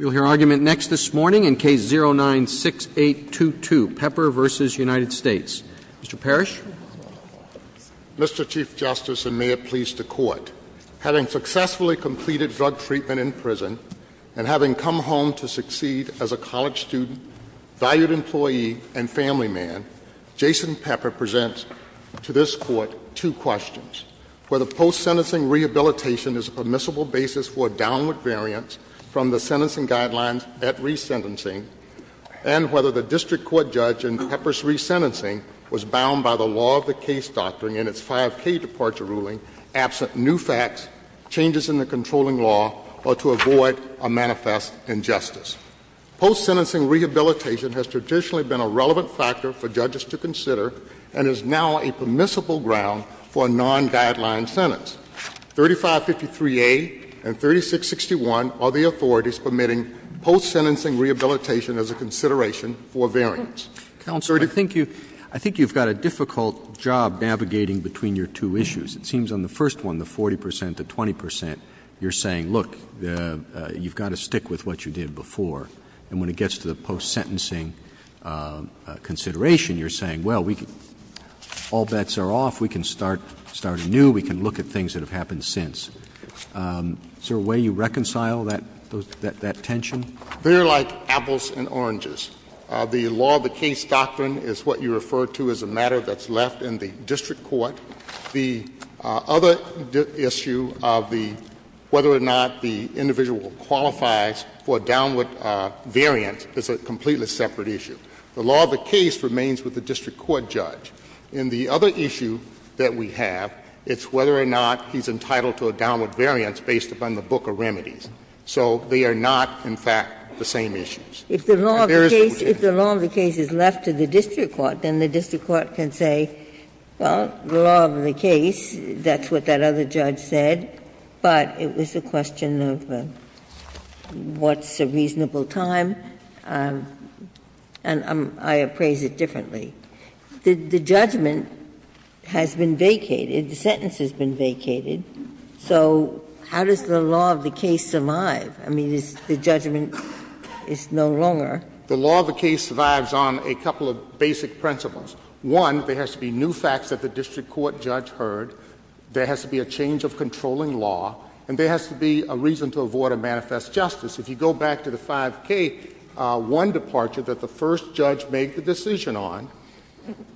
We'll hear argument next this morning in Case 09-6822, Pepper v. United States. Mr. Parrish. Mr. Chief Justice, and may it please the Court, having successfully completed drug treatment in prison, and having come home to succeed as a college student, valued employee, and family man, Jason Pepper presents to this Court two questions. Whether post-sentencing rehabilitation is a permissible basis for a downward variance from the sentencing guidelines at resentencing, and whether the district court judge in Pepper's resentencing was bound by the law of the case doctrine in its 5K departure ruling, absent new facts, changes in the controlling law, or to avoid a manifest injustice. Post-sentencing rehabilitation has traditionally been a relevant factor for judges to consider and is now a permissible ground for a non-guideline sentence. 3553A and 3661 are the authorities permitting post-sentencing rehabilitation as a consideration for variance. 30- I think you've got a difficult job navigating between your two issues. It seems on the first one, the 40% to 20%, you're saying, look, you've got to stick with what you did before. And when it gets to the post-sentencing consideration, you're saying, well, we can — all bets are off. We can start anew. We can look at things that have happened since. Is there a way you reconcile that tension? They're like apples and oranges. The law of the case doctrine is what you refer to as a matter that's left in the district court. The other issue of the — whether or not the individual qualifies for a downward variance is a completely separate issue. The law of the case remains with the district court judge. And the other issue that we have, it's whether or not he's entitled to a downward variance based upon the book of remedies. So they are not, in fact, the same issues. If there is a — If the law of the case is left to the district court, then the district court can say, well, the law of the case, that's what that other judge said, but it was a question of what's a reasonable time, and I appraise it differently. The judgment has been vacated, the sentence has been vacated, so how does the law of the case survive? I mean, the judgment is no longer — The law of the case survives on a couple of basic principles. One, there has to be new facts that the district court judge heard. There has to be a change of controlling law. And there has to be a reason to avoid a manifest justice. If you go back to the 5K1 departure that the first judge made the decision on,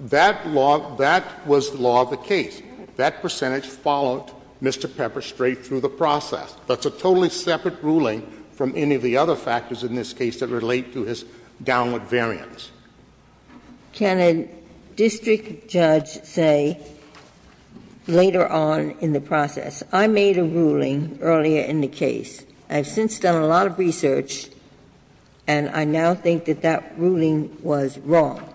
that law — that was the law of the case. That percentage followed Mr. Pepper straight through the process. That's a totally separate ruling from any of the other factors in this case that relate to his downward variance. Ginsburg Can a district judge say later on in the process, I made a ruling earlier in the case, I have since done a lot of research, and I now think that that ruling was wrong?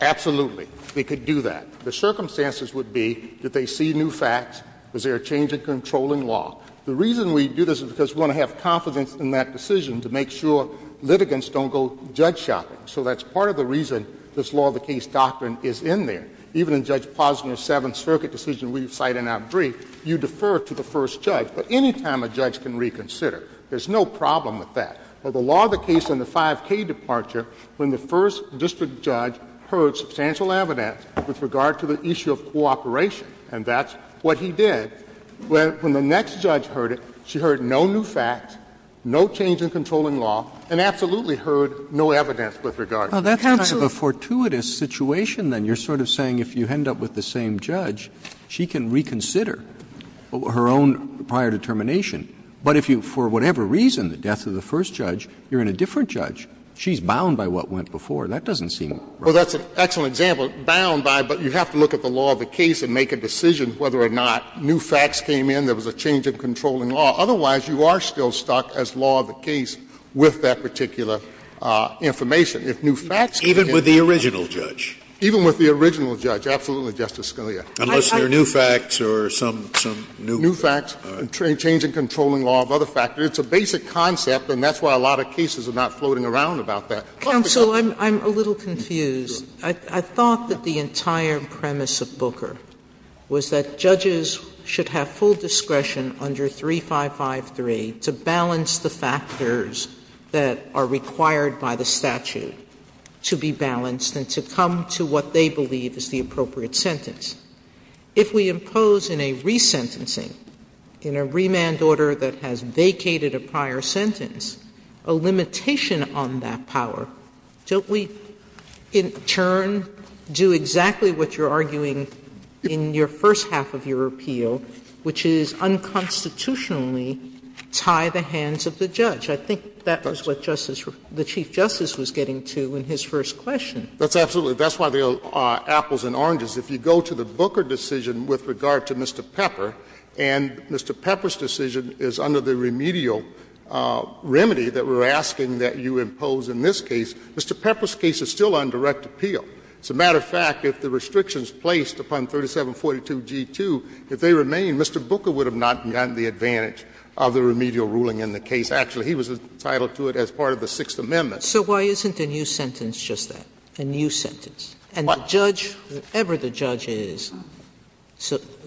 Absolutely. They could do that. The circumstances would be, did they see new facts, was there a change in controlling law? The reason we do this is because we want to have confidence in that decision to make sure litigants don't go judge shopping. So that's part of the reason this law of the case doctrine is in there. Even in Judge Posner's Seventh Circuit decision we cite in our brief, you defer to the first judge. But any time a judge can reconsider, there's no problem with that. But the law of the case in the 5K departure, when the first district judge heard substantial evidence with regard to the issue of cooperation, and that's what he did, when the next judge heard it, she heard no new facts, no change in controlling law, and absolutely heard no evidence with regard to it. That's kind of a fortuitous situation, then. You're sort of saying if you end up with the same judge, she can reconsider her own prior determination. But if you, for whatever reason, the death of the first judge, you're in a different judge. She's bound by what went before. That doesn't seem right. Well, that's an excellent example, bound by, but you have to look at the law of the case and make a decision whether or not new facts came in, there was a change in controlling law. Otherwise, you are still stuck as law of the case with that particular information. If new facts came in. Even with the original judge? Even with the original judge, absolutely, Justice Scalia. Unless there are new facts or some, some new. New facts, a change in controlling law of other factors. It's a basic concept, and that's why a lot of cases are not floating around about that. Counsel, I'm a little confused. I thought that the entire premise of Booker was that judges should have full discretion under 3553 to balance the factors that are required by the statute to be balanced and to come to what they believe is the appropriate sentence. If we impose in a resentencing, in a remand order that has vacated a prior sentence, a limitation on that power, don't we in turn do exactly what you're arguing in your first half of your appeal, which is unconstitutionally tie the hands of the judge? I think that was what Justice, the Chief Justice was getting to in his first question. That's absolutely, that's why the apples and oranges. If you go to the Booker decision with regard to Mr. Pepper, and Mr. Pepper's decision is under the remedial remedy that we're asking that you impose in this case, Mr. Pepper's case is still on direct appeal. As a matter of fact, if the restrictions placed upon 3742g2, if they remain, Mr. Booker would have not gotten the advantage of the remedial ruling in the case. Actually, he was entitled to it as part of the Sixth Amendment. Sotomayor, so why isn't a new sentence just that, a new sentence? And the judge, whatever the judge is,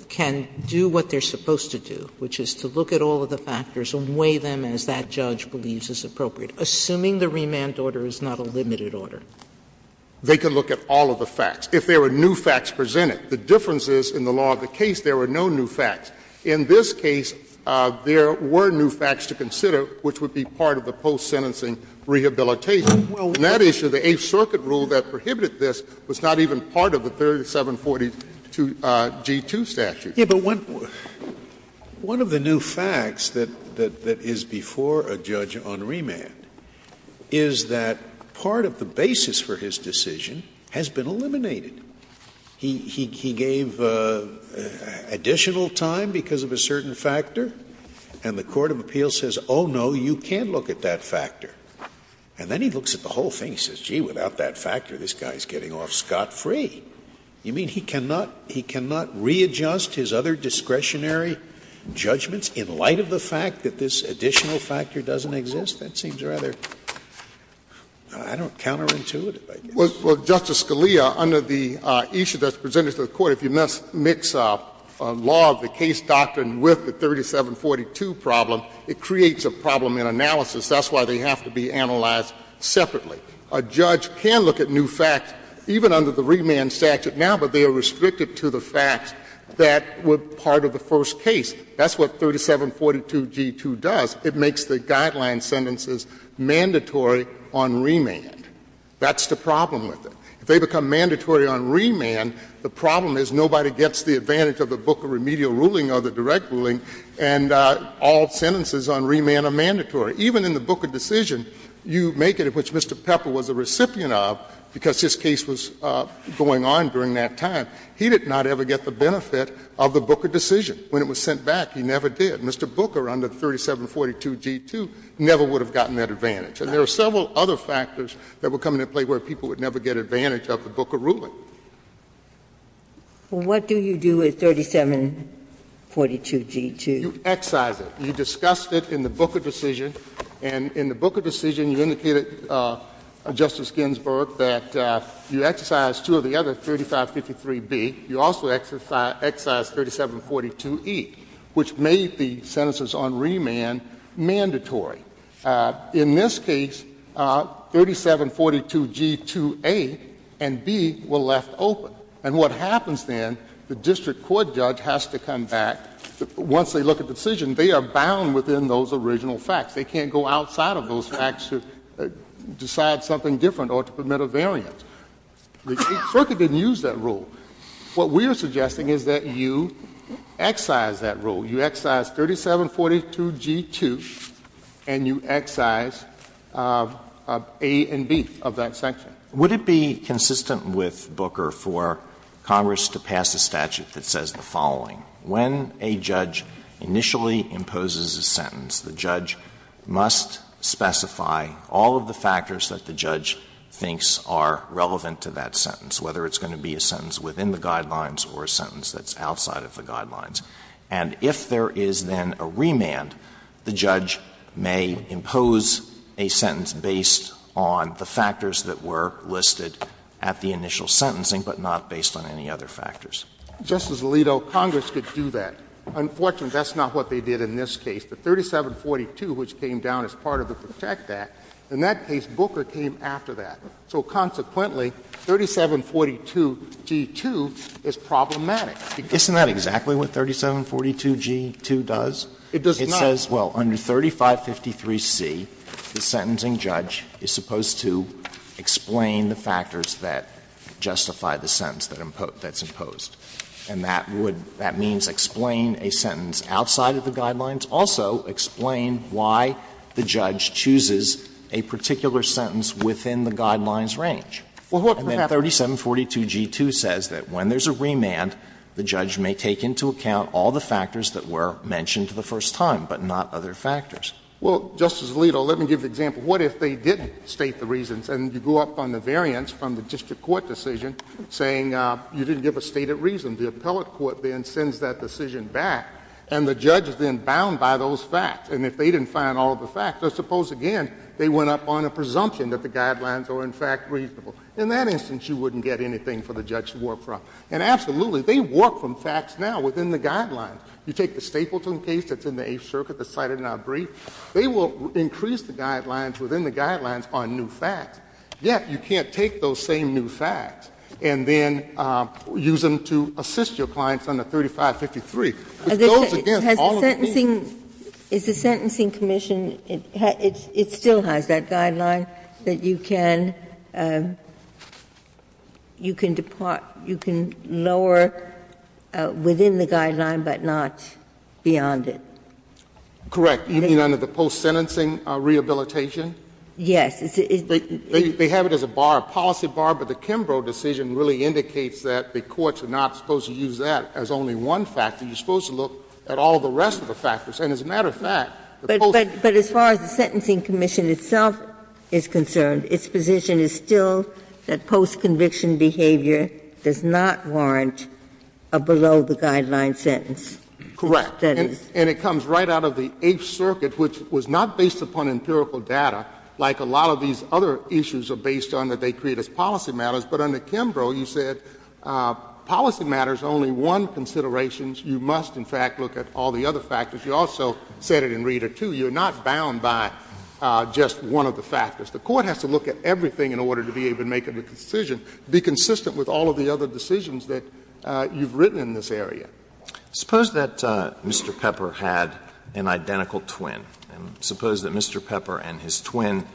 can do what they're supposed to do, which is to look at all of the factors and weigh them as that judge believes is appropriate, assuming the remand order is not a limited order. They can look at all of the facts. If there were new facts presented, the difference is in the law of the case, there were no new facts. In this case, there were new facts to consider, which would be part of the post-sentencing rehabilitation. In that issue, the Eighth Circuit rule that prohibited this was not even part of the 3742g2 statute. Scalia, but one of the new facts that is before a judge on remand is that part of the basis for his decision has been eliminated. He gave additional time because of a certain factor, and the court of appeals says, oh, no, you can't look at that factor. And then he looks at the whole thing and says, gee, without that factor, this guy is getting off scot-free. You mean he cannot readjust his other discretionary judgments in light of the fact that this additional factor doesn't exist? That seems rather, I don't know, counterintuitive, I guess. Well, Justice Scalia, under the issue that's presented to the Court, if you mix up a law of the case doctrine with the 3742 problem, it creates a problem in analysis. That's why they have to be analyzed separately. A judge can look at new facts, even under the remand statute now, but they are restricted to the facts that were part of the first case. That's what 3742g2 does. It makes the guideline sentences mandatory on remand. That's the problem with it. If they become mandatory on remand, the problem is nobody gets the advantage of the Booker remedial ruling or the direct ruling, and all sentences on remand are mandatory. Even in the Booker decision, you make it, which Mr. Pepper was a recipient of, because this case was going on during that time, he did not ever get the benefit of the Booker decision. When it was sent back, he never did. Mr. Booker, under 3742g2, never would have gotten that advantage. And there are several other factors that were coming into play where people would never get advantage of the Booker ruling. Ginsburg. Well, what do you do with 3742g2? You excise it. You discussed it in the Booker decision, and in the Booker decision, you indicated, Justice Ginsburg, that you excise two of the other 3553b, you also excise 3742e, which made the sentences on remand mandatory. In this case, 3742g2a and b were left open. And what happens then, the district court judge has to come back, once they look at the decision, they are bound within those original facts. They can't go outside of those facts to decide something different or to permit a variant. The circuit didn't use that rule. What we are suggesting is that you excise that rule. You excise 3742g2, and you excise a and b of that section. Would it be consistent with Booker for Congress to pass a statute that says the following, when a judge initially imposes a sentence, the judge must specify all of the factors that the judge thinks are relevant to that sentence, whether it's going to be a sentence within the guidelines or a sentence that's outside of the guidelines, and if there is then a remand, the judge may impose a sentence based on the factors that were listed at the initial sentencing, but not based on any other factors? Justice Alito, Congress could do that. Unfortunately, that's not what they did in this case. The 3742, which came down as part of the Protect Act, in that case, Booker came after that. So consequently, 3742g2 is problematic. Isn't that exactly what 3742g2 does? It does not. It says, well, under 3553c, the sentencing judge is supposed to explain the factors that justify the sentence that's imposed. And that would — that means explain a sentence outside of the guidelines, but it wouldn't also explain why the judge chooses a particular sentence within the guidelines range. And then 3742g2 says that when there's a remand, the judge may take into account all the factors that were mentioned the first time, but not other factors. Well, Justice Alito, let me give you an example. What if they didn't state the reasons and you go up on the variance from the district court decision saying you didn't give a stated reason? The appellate court then sends that decision back, and the judge is then bound by those facts. And if they didn't find all of the facts — let's suppose, again, they went up on a presumption that the guidelines are, in fact, reasonable. In that instance, you wouldn't get anything for the judge to work from. And absolutely, they work from facts now within the guidelines. You take the Stapleton case that's in the Eighth Circuit that's cited in our brief, they will increase the guidelines within the guidelines on new facts. Yet, you can't take those same new facts and then use them to assist your clients under 3553. It goes against all of the rules. Is the Sentencing Commission — it still has that guideline that you can — you can depart — you can lower within the guideline, but not beyond it? Correct. You mean under the post-sentencing rehabilitation? Yes. They have it as a bar, a policy bar, but the Kimbrough decision really indicates that the courts are not supposed to use that as only one factor. You're supposed to look at all the rest of the factors. And as a matter of fact, the post-conviction— But as far as the Sentencing Commission itself is concerned, its position is still that post-conviction behavior does not warrant a below-the-guideline sentence. Correct. And it comes right out of the Eighth Circuit, which was not based upon empirical data, like a lot of these other issues are based on that they create as policy matters. But under Kimbrough, you said policy matters are only one consideration. You must, in fact, look at all the other factors. You also said it in Reader, too. You're not bound by just one of the factors. The Court has to look at everything in order to be able to make a decision, be consistent with all of the other decisions that you've written in this area. Suppose that Mr. Pepper had an identical twin. And suppose that Mr. Pepper and his twin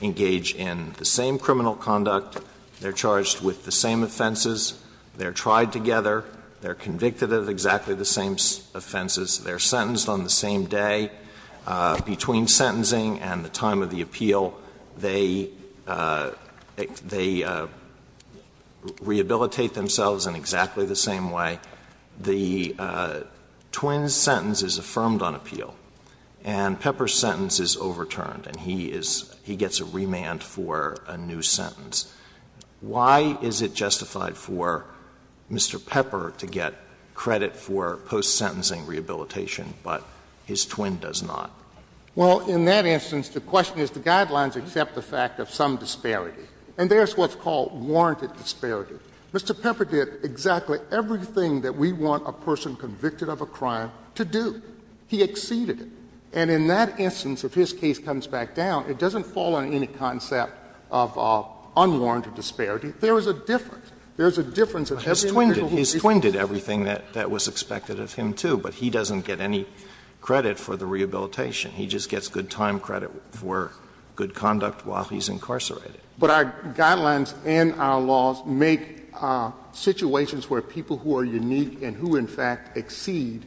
engage in the same criminal conduct. They're charged with the same offenses. They're tried together. They're convicted of exactly the same offenses. They're sentenced on the same day. Between sentencing and the time of the appeal, they rehabilitate themselves in exactly the same way. Now, the twin's sentence is affirmed on appeal, and Pepper's sentence is overturned, and he is he gets a remand for a new sentence. Why is it justified for Mr. Pepper to get credit for post-sentencing rehabilitation, but his twin does not? Well, in that instance, the question is the Guidelines accept the fact of some disparity. And there's what's called warranted disparity. Mr. Pepper did exactly everything that we want a person convicted of a crime to do. He exceeded it. And in that instance, if his case comes back down, it doesn't fall on any concept of unwarranted disparity. There is a difference. There is a difference between the people who did it. Alito, he's twinned everything that was expected of him, too, but he doesn't get any credit for the rehabilitation. He just gets good time credit for good conduct while he's incarcerated. But our Guidelines and our laws make situations where people who are unique and who, in fact, exceed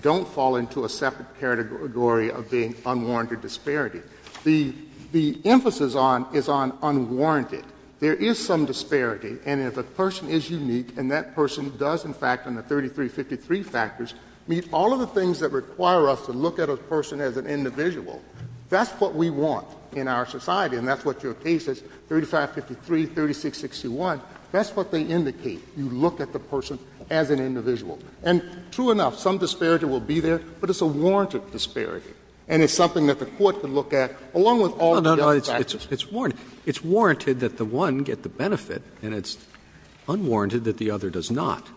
don't fall into a separate category of being unwarranted disparity. The emphasis on is on unwarranted. There is some disparity, and if a person is unique and that person does, in fact, on the 3353 factors, meet all of the things that require us to look at a person as an individual, that's what we want in our society, and that's what your case says, 3553, 3661, that's what they indicate, you look at the person as an individual. And true enough, some disparity will be there, but it's a warranted disparity, and it's something that the Court can look at, along with all the other factors. Roberts, it's warranted that the one get the benefit, and it's unwarranted that the other does not.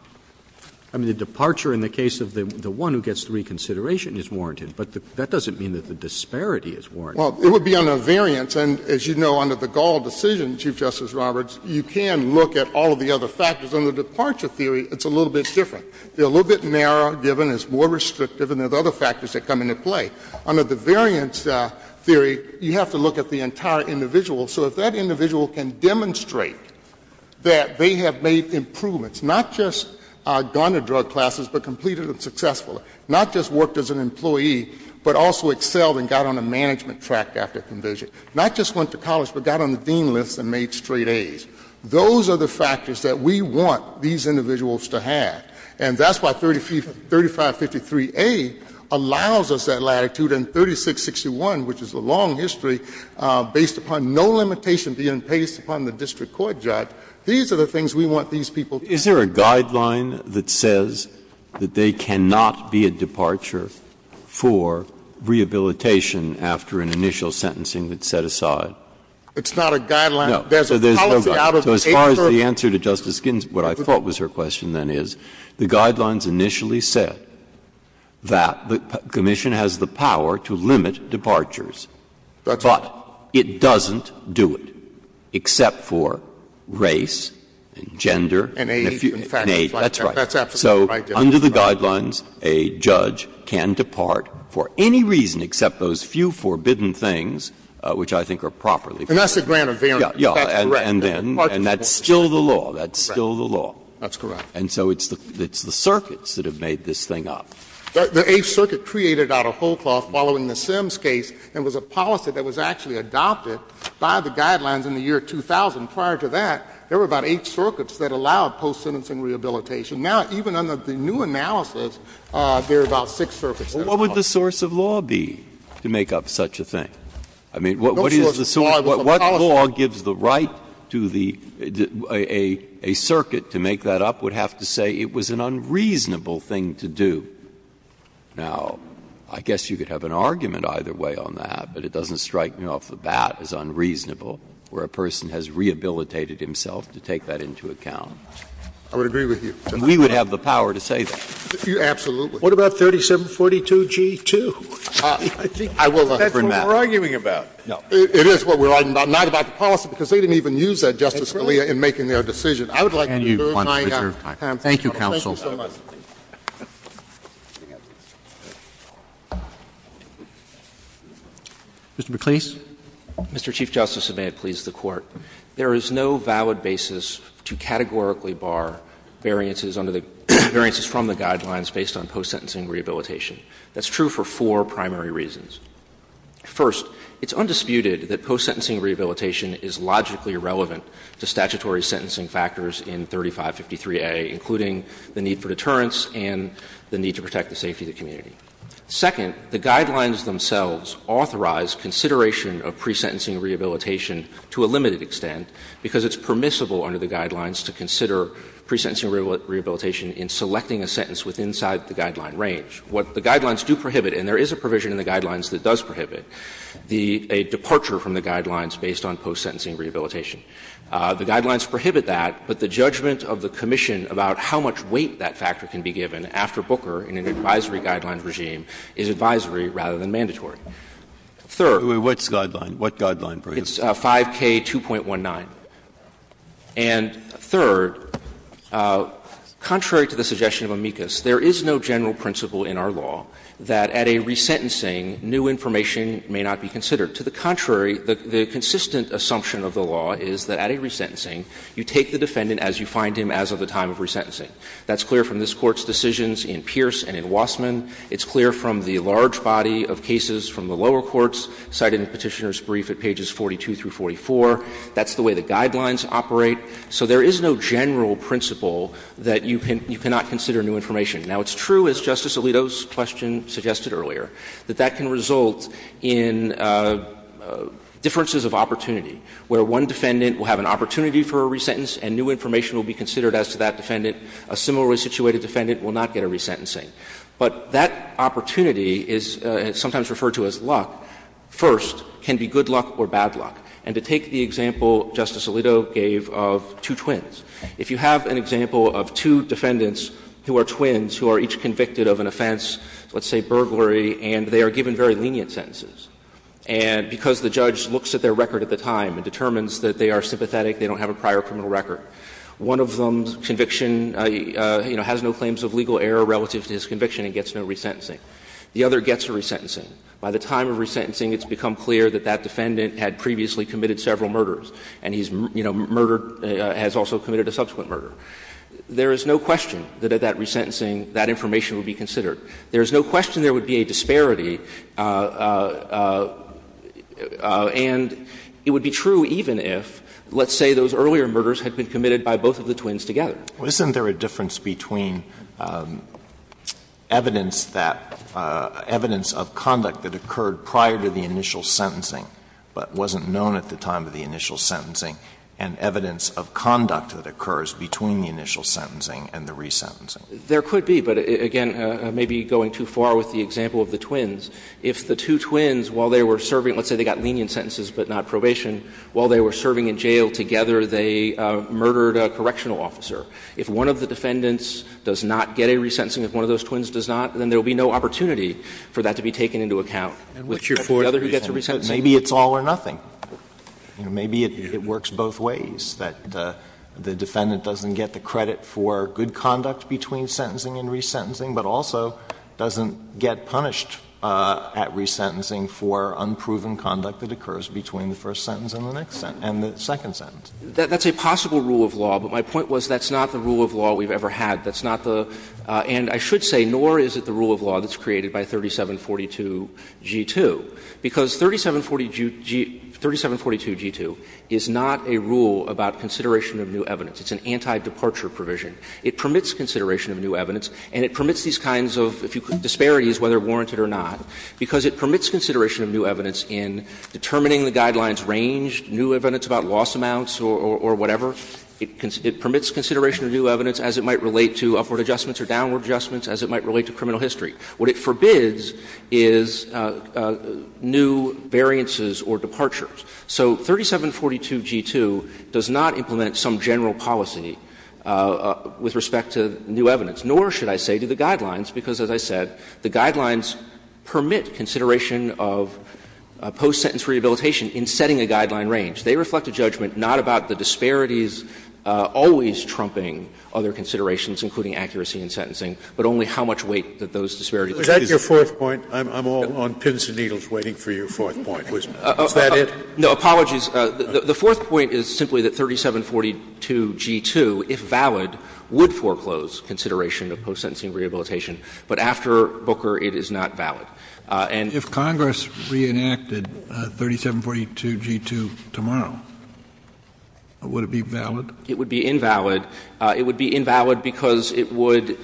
I mean, the departure in the case of the one who gets the reconsideration is warranted, but that doesn't mean that the disparity is warranted. Well, it would be on a variance, and as you know, under the Gall decision, Chief Justice Roberts, you can look at all of the other factors. Under the departure theory, it's a little bit different. They're a little bit narrower, given it's more restrictive, and there's other factors that come into play. Under the variance theory, you have to look at the entire individual, so if that individual can demonstrate that they have made improvements, not just gone to drug classes, but completed them successfully, not just worked as an employee, but also sold and got on a management track after commission, not just went to college, but got on the dean list and made straight A's, those are the factors that we want these individuals to have. And that's why 3553A allows us that latitude, and 3661, which is a long history, based upon no limitation being placed upon the district court judge, these are the things we want these people to do. Breyer. Is there a guideline that says that they cannot be a departure for rehabilitation after an initial sentencing that's set aside? It's not a guideline. No. There's a policy out of the agency. So as far as the answer to Justice Ginsburg, what I thought was her question then is, the guidelines initially said that the commission has the power to limit departures. But it doesn't do it, except for race and gender. And age and factors like that. That's absolutely right, Justice Breyer. So under the guidelines, a judge can depart for any reason except those few forbidden things, which I think are properly fair. And that's the grant of variance. That's correct. And that's still the law. That's still the law. That's correct. And so it's the circuits that have made this thing up. The Eighth Circuit created out a whole cloth following the Sims case, and it was a policy that was actually adopted by the guidelines in the year 2000. Prior to that, there were about eight circuits that allowed post-sentencing rehabilitation. Now, even under the new analysis, there are about six circuits that allow it. Breyer. What would the source of law be to make up such a thing? I mean, what is the source? What law gives the right to the — a circuit to make that up would have to say it was an unreasonable thing to do. Now, I guess you could have an argument either way on that, but it doesn't strike me off the bat as unreasonable, where a person has rehabilitated himself to take that into account. I would agree with you. And we would have the power to say that. Absolutely. What about 3742G2? I will not affirm that. That's what we're arguing about. No. It is what we're arguing about, not about the policy, because they didn't even use that, Justice Scalia, in making their decision. I would like to reserve my time. Thank you, counsel. Thank you so much. Mr. McLeese. Mr. Chief Justice, and may it please the Court, there is no valid basis to categorically bar variances under the — variances from the Guidelines based on post-sentencing rehabilitation. That's true for four primary reasons. First, it's undisputed that post-sentencing rehabilitation is logically relevant to statutory sentencing factors in 3553A, including the need for deterrence and the need to protect the safety of the community. Second, the Guidelines themselves authorize consideration of pre-sentencing rehabilitation to a limited extent, because it's permissible under the Guidelines to consider pre-sentencing rehabilitation in selecting a sentence within the guideline range. What the Guidelines do prohibit, and there is a provision in the Guidelines that does prohibit, a departure from the Guidelines based on post-sentencing rehabilitation. The Guidelines prohibit that, but the judgment of the commission about how much weight that factor can be given after Booker in an advisory Guidelines regime is advisory rather than mandatory. Third. Breyer, what's the Guideline? What Guideline, please? It's 5K2.19. And third, contrary to the suggestion of amicus, there is no general principle in our law that at a resentencing new information may not be considered. To the contrary, the consistent assumption of the law is that at a resentencing, you take the defendant as you find him as of the time of resentencing. That's clear from this Court's decisions in Pierce and in Wassman. It's clear from the large body of cases from the lower courts cited in Petitioner's brief at pages 42 through 44. That's the way the Guidelines operate. So there is no general principle that you cannot consider new information. Now, it's true, as Justice Alito's question suggested earlier, that that can result in differences of opportunity, where one defendant will have an opportunity for a resentence and new information will be considered as to that defendant. A similarly situated defendant will not get a resentencing. But that opportunity is sometimes referred to as luck. First, can be good luck or bad luck. And to take the example Justice Alito gave of two twins, if you have an example of two defendants who are twins who are each convicted of an offense, let's say burglary, and they are given very lenient sentences. And because the judge looks at their record at the time and determines that they are sympathetic, they don't have a prior criminal record. One of them's conviction, you know, has no claims of legal error relative to his conviction and gets no resentencing. The other gets a resentencing. By the time of resentencing, it's become clear that that defendant had previously committed several murders, and he's, you know, murdered, has also committed a subsequent murder. There is no question that at that resentencing, that information would be considered. There is no question there would be a disparity, and it would be true even if, let's say, those earlier murders had been committed by both of the twins together. Alito, isn't there a difference between evidence that – evidence of conduct that occurred prior to the initial sentencing but wasn't known at the time of the initial sentencing and evidence of conduct that occurs between the initial sentencing and the resentencing? There could be, but again, maybe going too far with the example of the twins. If the two twins, while they were serving, let's say they got lenient sentences but not probation, while they were serving in jail together, they murdered a correctional officer, if one of the defendants does not get a resentencing, if one of those twins does not, then there will be no opportunity for that to be taken into account. The other who gets a resentencing. Maybe it's all or nothing. You know, maybe it works both ways, that the defendant doesn't get the credit for good conduct between sentencing and resentencing, but also doesn't get punished at resentencing for unproven conduct that occurs between the first sentence and the second sentence. That's a possible rule of law, but my point was that's not the rule of law we've ever had. That's not the – and I should say, nor is it the rule of law that's created by 3742g2, because 3742g2 is not a rule about consideration of new evidence. It's an anti-departure provision. It permits consideration of new evidence, and it permits these kinds of disparities, whether warranted or not, because it permits consideration of new evidence in determining the guidelines range, new evidence about loss amounts or whatever. It permits consideration of new evidence as it might relate to upward adjustments or downward adjustments, as it might relate to criminal history. What it forbids is new variances or departures. So 3742g2 does not implement some general policy with respect to new evidence, nor should I say to the guidelines, because as I said, the guidelines permit consideration of post-sentence rehabilitation in setting a guideline range. They reflect a judgment not about the disparities always trumping other considerations, including accuracy in sentencing, but only how much weight that those disparities put on it. Scalia. Is that your fourth point? I'm all on pins and needles waiting for your fourth point, Wisman. Is that it? No. Apologies. The fourth point is simply that 3742g2, if valid, would foreclose consideration of post-sentencing rehabilitation, but after Booker it is not valid. And if Congress reenacted 3742g2 tomorrow, would it be valid? It would be invalid. It would be invalid because it would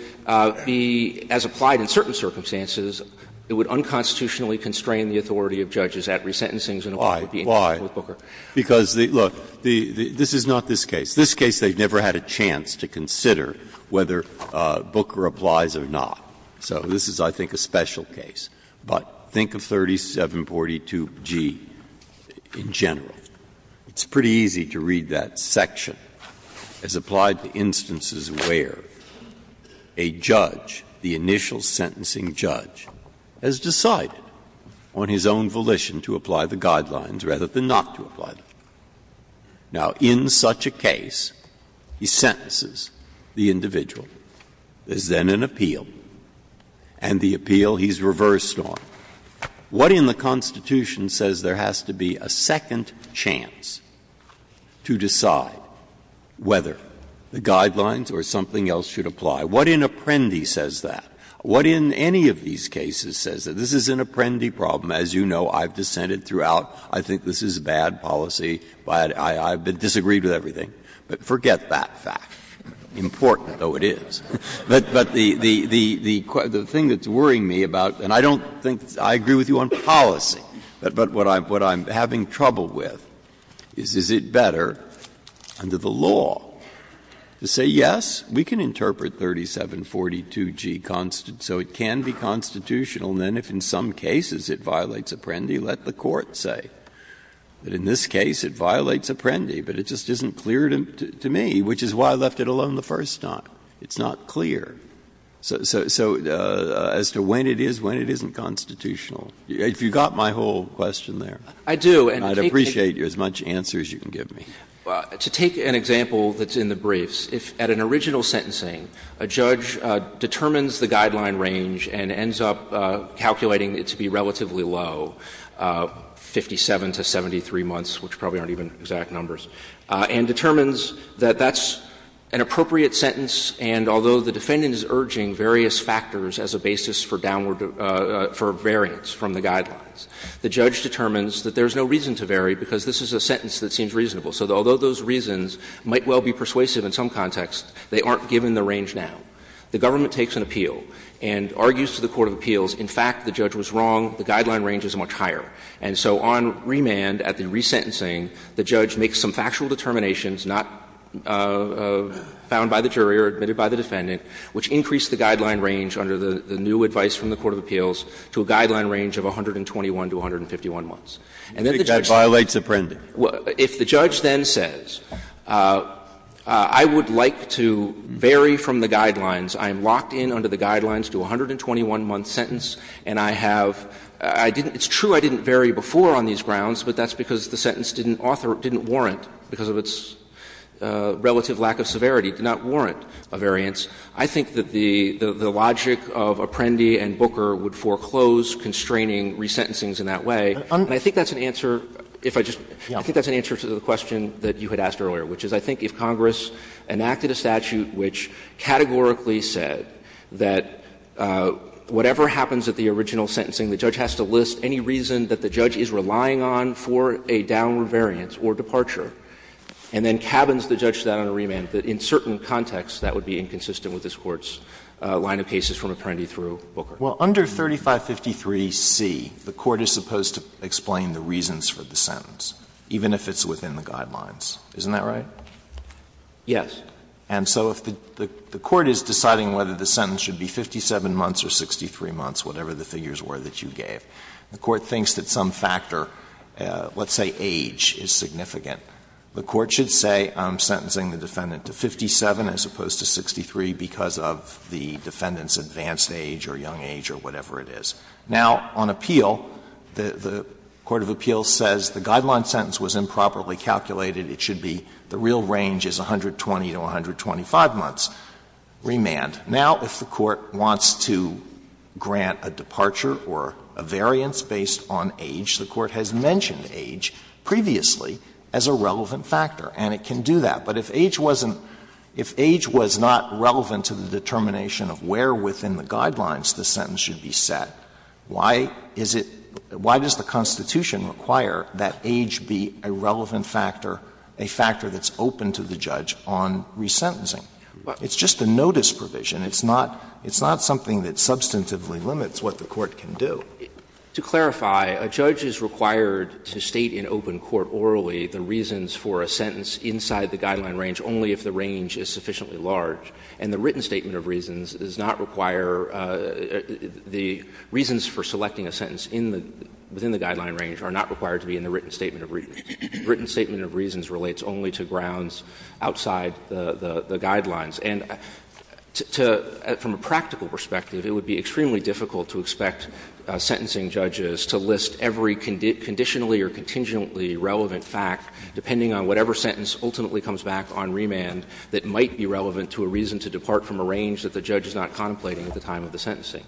be, as applied in certain circumstances, it would unconstitutionally constrain the authority of judges at resentencings and it would be invalid. Why? Because, look, this is not this case. This case they never had a chance to consider whether Booker applies or not. So this is, I think, a special case. But think of 3742g in general. It's pretty easy to read that section as applied to instances where a judge, the initial sentencing judge, has decided on his own volition to apply the guidelines rather than not to apply them. Now, in such a case, he sentences the individual. There's then an appeal, and the appeal he's reversed on. What in the Constitution says there has to be a second chance to decide whether the guidelines or something else should apply? What in Apprendi says that? What in any of these cases says that? This is an Apprendi problem. As you know, I've dissented throughout. I think this is bad policy. I've disagreed with everything. But forget that fact, important though it is. But the thing that's worrying me about, and I don't think I agree with you on policy, but what I'm having trouble with is, is it better under the law to say, yes, we can constitutional, and then if in some cases it violates Apprendi, let the court say. But in this case, it violates Apprendi, but it just isn't clear to me, which is why I left it alone the first time. It's not clear. So as to when it is, when it isn't constitutional, if you got my whole question there, I'd appreciate as much answer as you can give me. To take an example that's in the briefs, if at an original sentencing a judge determines the guideline range and ends up calculating it to be relatively low, 57 to 73 months, which probably aren't even exact numbers, and determines that that's an appropriate sentence, and although the defendant is urging various factors as a basis for downward or for variance from the guidelines, the judge determines that there's no reason to vary because this is a sentence that seems reasonable. So although those reasons might well be persuasive in some contexts, they aren't given the range now. The government takes an appeal and argues to the court of appeals, in fact, the judge was wrong, the guideline range is much higher. And so on remand at the resentencing, the judge makes some factual determinations not found by the jury or admitted by the defendant, which increase the guideline range under the new advice from the court of appeals to a guideline range of 121 to 151 months. And then the judge says Breyer, that violates Apprendi. If the judge then says, I would like to vary from the guidelines, I am locked in under the guidelines to a 121-month sentence, and I have — it's true I didn't vary before on these grounds, but that's because the sentence didn't warrant, because of its relative lack of severity, did not warrant a variance, I think that the logic of Apprendi and Booker would foreclose constraining resentencings in that way. And I think that's an answer, if I just — I think that's an answer to the question that you had asked earlier, which is I think if Congress enacted a statute which categorically said that whatever happens at the original sentencing, the judge has to list any reason that the judge is relying on for a downward variance or departure, and then cabins the judge to that on a remand, that in certain contexts that would be inconsistent with this Court's line of cases from Apprendi through Booker. Alito, well, under 3553c, the Court is supposed to explain the reasons for the sentence, even if it's within the guidelines. Isn't that right? Yes. And so if the Court is deciding whether the sentence should be 57 months or 63 months, whatever the figures were that you gave, the Court thinks that some factor, let's say age, is significant. The Court should say I'm sentencing the defendant to 57 as opposed to 63 because of the defendant's advanced age or young age or whatever it is. Now, on appeal, the court of appeals says the guideline sentence was improperly calculated. It should be the real range is 120 to 125 months remand. Now, if the Court wants to grant a departure or a variance based on age, the Court has mentioned age previously as a relevant factor, and it can do that. But if age wasn't — if age was not relevant to the determination of where within the guidelines the sentence should be set, why is it — why does the Constitution require that age be a relevant factor, a factor that's open to the judge on resentencing? It's just a notice provision. It's not — it's not something that substantively limits what the Court can do. To clarify, a judge is required to state in open court orally the reasons for a sentence inside the guideline range only if the range is sufficiently large. And the written statement of reasons does not require — the reasons for selecting a sentence in the — within the guideline range are not required to be in the written statement of reasons. The written statement of reasons relates only to grounds outside the guidelines. And to — from a practical perspective, it would be extremely difficult to expect sentencing judges to list every conditionally or contingently relevant fact, depending on whatever sentence ultimately comes back on remand, that might be relevant to a reason to depart from a range that the judge is not contemplating at the time of the sentencing.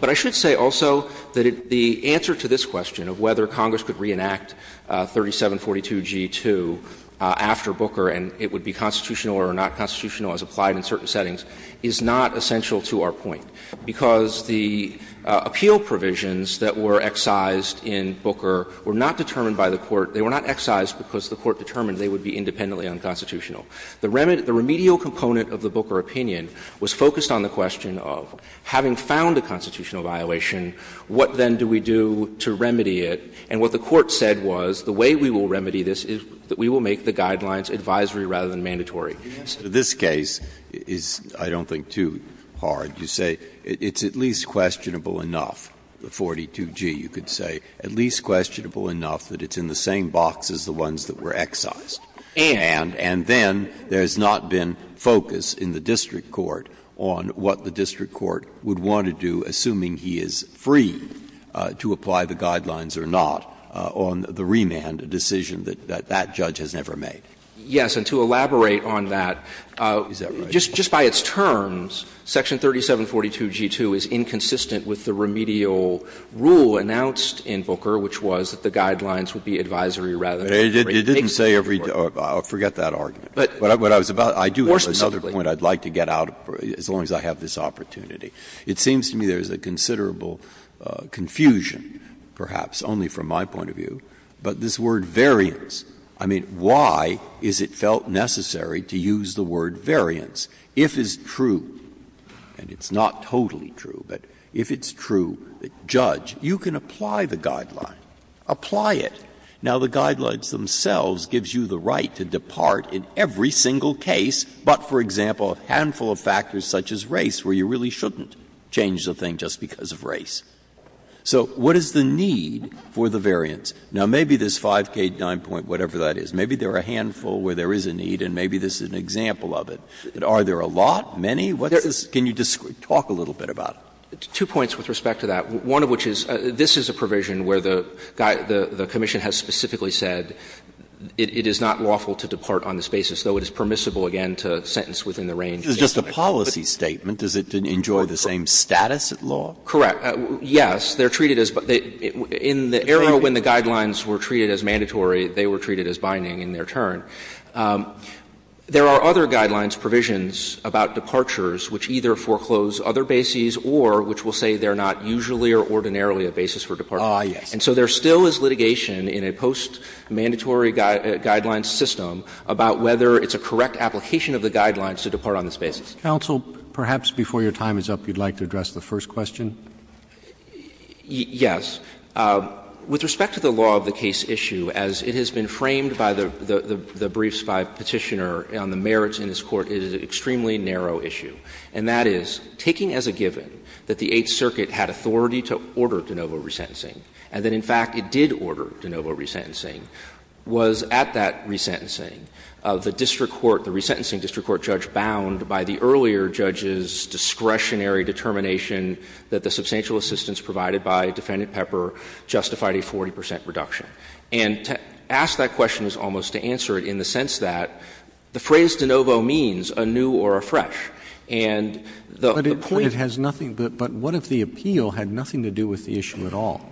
But I should say also that the answer to this question of whether Congress could reenact 3742g2 after Booker and it would be constitutional or not constitutional as applied in certain settings is not essential to our point, because the appeal provisions that were excised in Booker were not determined by the Court. They were not excised because the Court determined they would be independently unconstitutional. The remedial component of the Booker opinion was focused on the question of, having found a constitutional violation, what then do we do to remedy it? And what the Court said was, the way we will remedy this is that we will make the guidelines advisory rather than mandatory. Breyer, this case is, I don't think, too hard. You say it's at least questionable enough, the 42g, you could say, at least questionable enough that it's in the same box as the ones that were excised, and then there has not been focus in the district court on what the district court would want to do, assuming he is free to apply the guidelines or not, on the remand, a decision that that judge has never made. Yes, and to elaborate on that, just by its terms, section 3742g2 is inconsistent with the remedial rule announced in Booker, which was that the guidelines would be advisory rather than mandatory. Breyer, it didn't say every day. I'll forget that argument. But what I was about to say, I do have another point I'd like to get out of, as long as I have this opportunity. It seems to me there is a considerable confusion, perhaps only from my point of view, but this word, variance, I mean, why is it felt necessary to use the word variance if it's true, and it's not totally true, but if it's true, the judge, you can apply the guideline, apply it. Now, the guidelines themselves gives you the right to depart in every single case, but, for example, a handful of factors such as race, where you really shouldn't change the thing just because of race. So what is the need for the variance? Now, maybe this 5K9 point, whatever that is, maybe there are a handful where there is a need, and maybe this is an example of it. But are there a lot, many? What's this? Can you talk a little bit about it? Two points with respect to that, one of which is, this is a provision where the commission has specifically said it is not lawful to depart on this basis, though it is permissible, again, to sentence within the range of the estimate. It's just a policy statement. Does it enjoy the same status at law? Correct. Yes. They're treated as by they – in the era when the guidelines were treated as mandatory, they were treated as binding in their turn. There are other guidelines provisions about departures which either foreclose other bases or which will say they're not usually or ordinarily a basis for departure. Ah, yes. And so there still is litigation in a post-mandatory guidelines system about whether it's a correct application of the guidelines to depart on this basis. Counsel, perhaps before your time is up, you'd like to address the first question? Yes. With respect to the law of the case issue, as it has been framed by the briefs by Petitioner on the merits in this Court, it is an extremely narrow issue. And that is, taking as a given that the Eighth Circuit had authority to order de novo resentencing and that, in fact, it did order de novo resentencing, was at that resentencing the district court, the resentencing district court judge bound by the earlier judge's discretionary determination that the substantial assistance provided by Defendant Pepper justified a 40 percent reduction. And to ask that question is almost to answer it in the sense that the phrase de novo means a new or a fresh. And the point of the point of the appeal had nothing to do with the issue at all.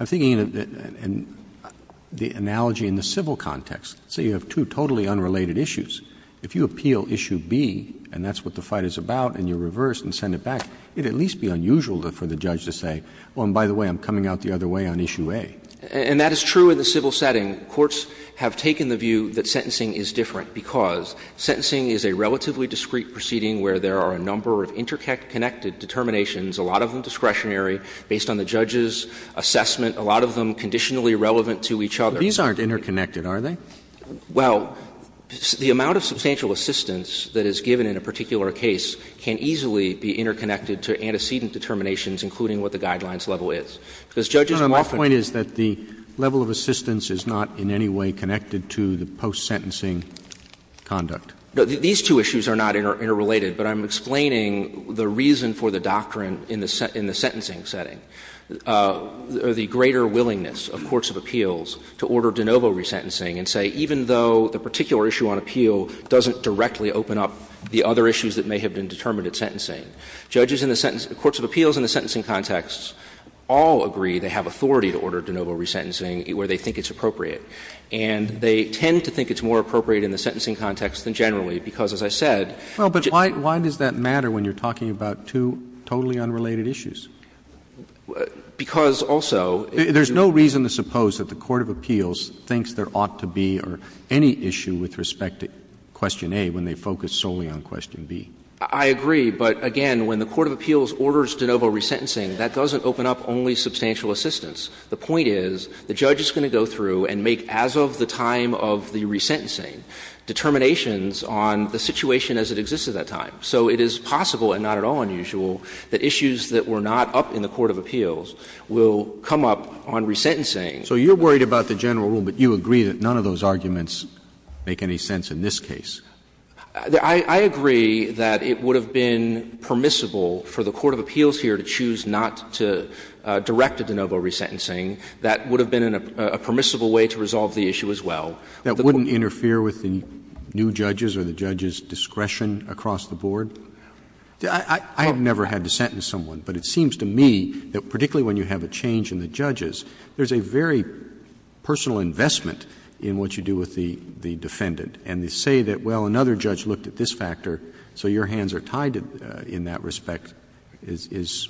I'm thinking of the analogy in the civil context. Say you have two totally unrelated issues. If you appeal issue B and that's what the fight is about and you reverse and send it back, it would at least be unusual for the judge to say, oh, and by the way, I'm coming out the other way on issue A. And that is true in the civil setting. Courts have taken the view that sentencing is different because sentencing is a relatively discreet proceeding where there are a number of interconnected determinations, a lot of them discretionary, based on the judge's assessment, a lot of them conditionally relevant to each other. But these aren't interconnected, are they? Well, the amount of substantial assistance that is given in a particular case can easily be interconnected to antecedent determinations, including what the guidelines level is. Because judges often — My point is that the level of assistance is not in any way connected to the post-sentencing conduct. These two issues are not interrelated, but I'm explaining the reason for the doctrine in the sentencing setting, or the greater willingness of courts of appeals to order de novo resentencing and say, even though the particular issue on appeal doesn't directly open up the other issues that may have been determined at sentencing. Judges in the courts of appeals in the sentencing context all agree they have authority to order de novo resentencing where they think it's appropriate. And they tend to think it's more appropriate in the sentencing context than generally, because, as I said — Well, but why does that matter when you're talking about two totally unrelated issues? Because also — There's no reason to suppose that the court of appeals thinks there ought to be any issue with respect to question A when they focus solely on question B. I agree. But, again, when the court of appeals orders de novo resentencing, that doesn't open up only substantial assistance. The point is the judge is going to go through and make, as of the time of the resentencing, determinations on the situation as it exists at that time. So it is possible, and not at all unusual, that issues that were not up in the court of appeals will come up on resentencing. So you're worried about the general rule, but you agree that none of those arguments make any sense in this case? I agree that it would have been permissible for the court of appeals here to choose not to direct a de novo resentencing. That would have been a permissible way to resolve the issue as well. That wouldn't interfere with the new judges or the judges' discretion across the board? I have never had to sentence someone, but it seems to me that particularly when you have a change in the judges, there's a very personal investment in what you do with the defendant. And to say that, well, another judge looked at this factor, so your hands are tied in that respect, is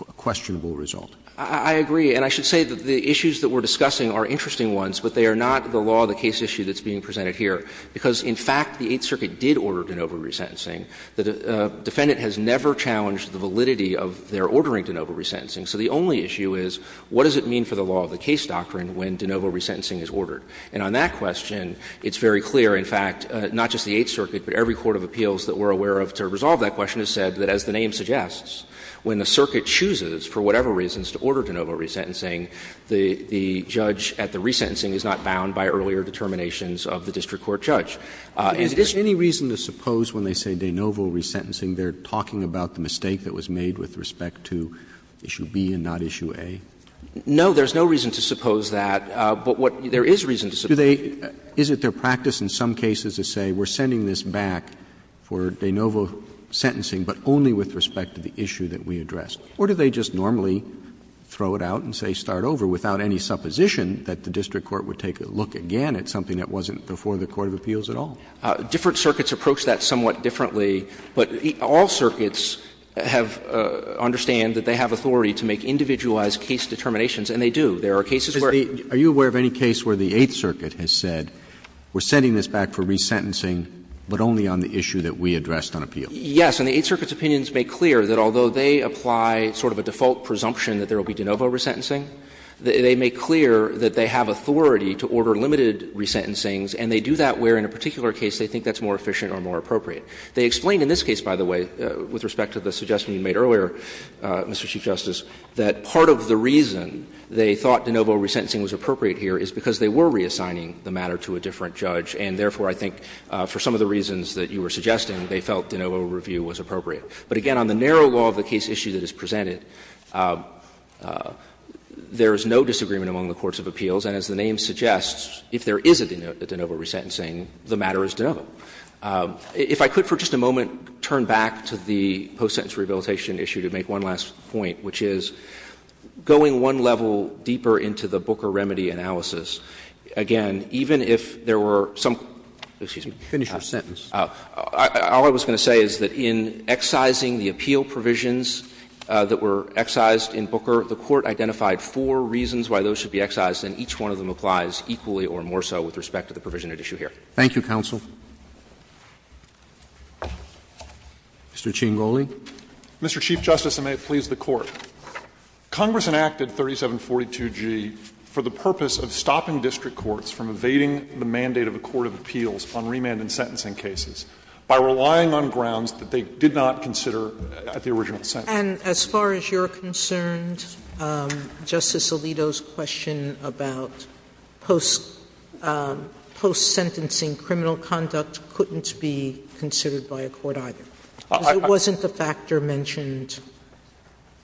a questionable result. I agree, and I should say that the issues that we're discussing are interesting ones, but they are not the law, the case issue that's being presented here, because in fact the Eighth Circuit did order de novo resentencing. The defendant has never challenged the validity of their ordering de novo resentencing. So the only issue is, what does it mean for the law of the case doctrine when de novo resentencing is ordered? And on that question, it's very clear, in fact, not just the Eighth Circuit, but every court of appeals that we're aware of to resolve that question has said that, as the name suggests, when the circuit chooses, for whatever reasons, to order de novo resentencing, the judge at the resentencing is not bound by earlier determinations of the district court judge. Roberts Is there any reason to suppose when they say de novo resentencing, they're talking about the mistake that was made with respect to issue B and not issue A? No, there's no reason to suppose that. But what there is reason to suppose. Is it their practice in some cases to say we're sending this back for de novo sentencing, but only with respect to the issue that we addressed? Or do they just normally throw it out and say start over without any supposition that the district court would take a look again at something that wasn't before the court of appeals at all? Different circuits approach that somewhat differently. But all circuits have to understand that they have authority to make individualized case determinations, and they do. There are cases where they do. Are you aware of any case where the Eighth Circuit has said we're sending this back for resentencing, but only on the issue that we addressed on appeal? Yes. And the Eighth Circuit's opinions make clear that although they apply sort of a default presumption that there will be de novo resentencing, they make clear that they have authority to order limited resentencings, and they do that where in a particular case they think that's more efficient or more appropriate. They explain in this case, by the way, with respect to the suggestion you made earlier, Mr. Chief Justice, that part of the reason they thought de novo resentencing was appropriate here is because they were reassigning the matter to a different judge, and therefore I think for some of the reasons that you were suggesting they felt de novo review was appropriate. But again, on the narrow law of the case issue that is presented, there is no disagreement among the courts of appeals, and as the name suggests, if there is a de novo resentencing, the matter is de novo. If I could for just a moment turn back to the post-sentence rehabilitation issue to make one last point, which is going one level deeper into the Booker remedy analysis, again, even if there were some, excuse me. Finish your sentence. All I was going to say is that in excising the appeal provisions that were excised in Booker, the Court identified four reasons why those should be excised, and each one of them applies equally or more so with respect to the provision at issue here. Roberts. Thank you, counsel. Mr. Chiengoli. Mr. Chief Justice, and may it please the Court. Congress enacted 3742G for the purpose of stopping district courts from evading the mandate of a court of appeals on remand and sentencing cases by relying on grounds that they did not consider at the original sentence. And as far as you're concerned, Justice Alito's question about post-sentencing criminal conduct couldn't be considered by a court either. It wasn't the factor mentioned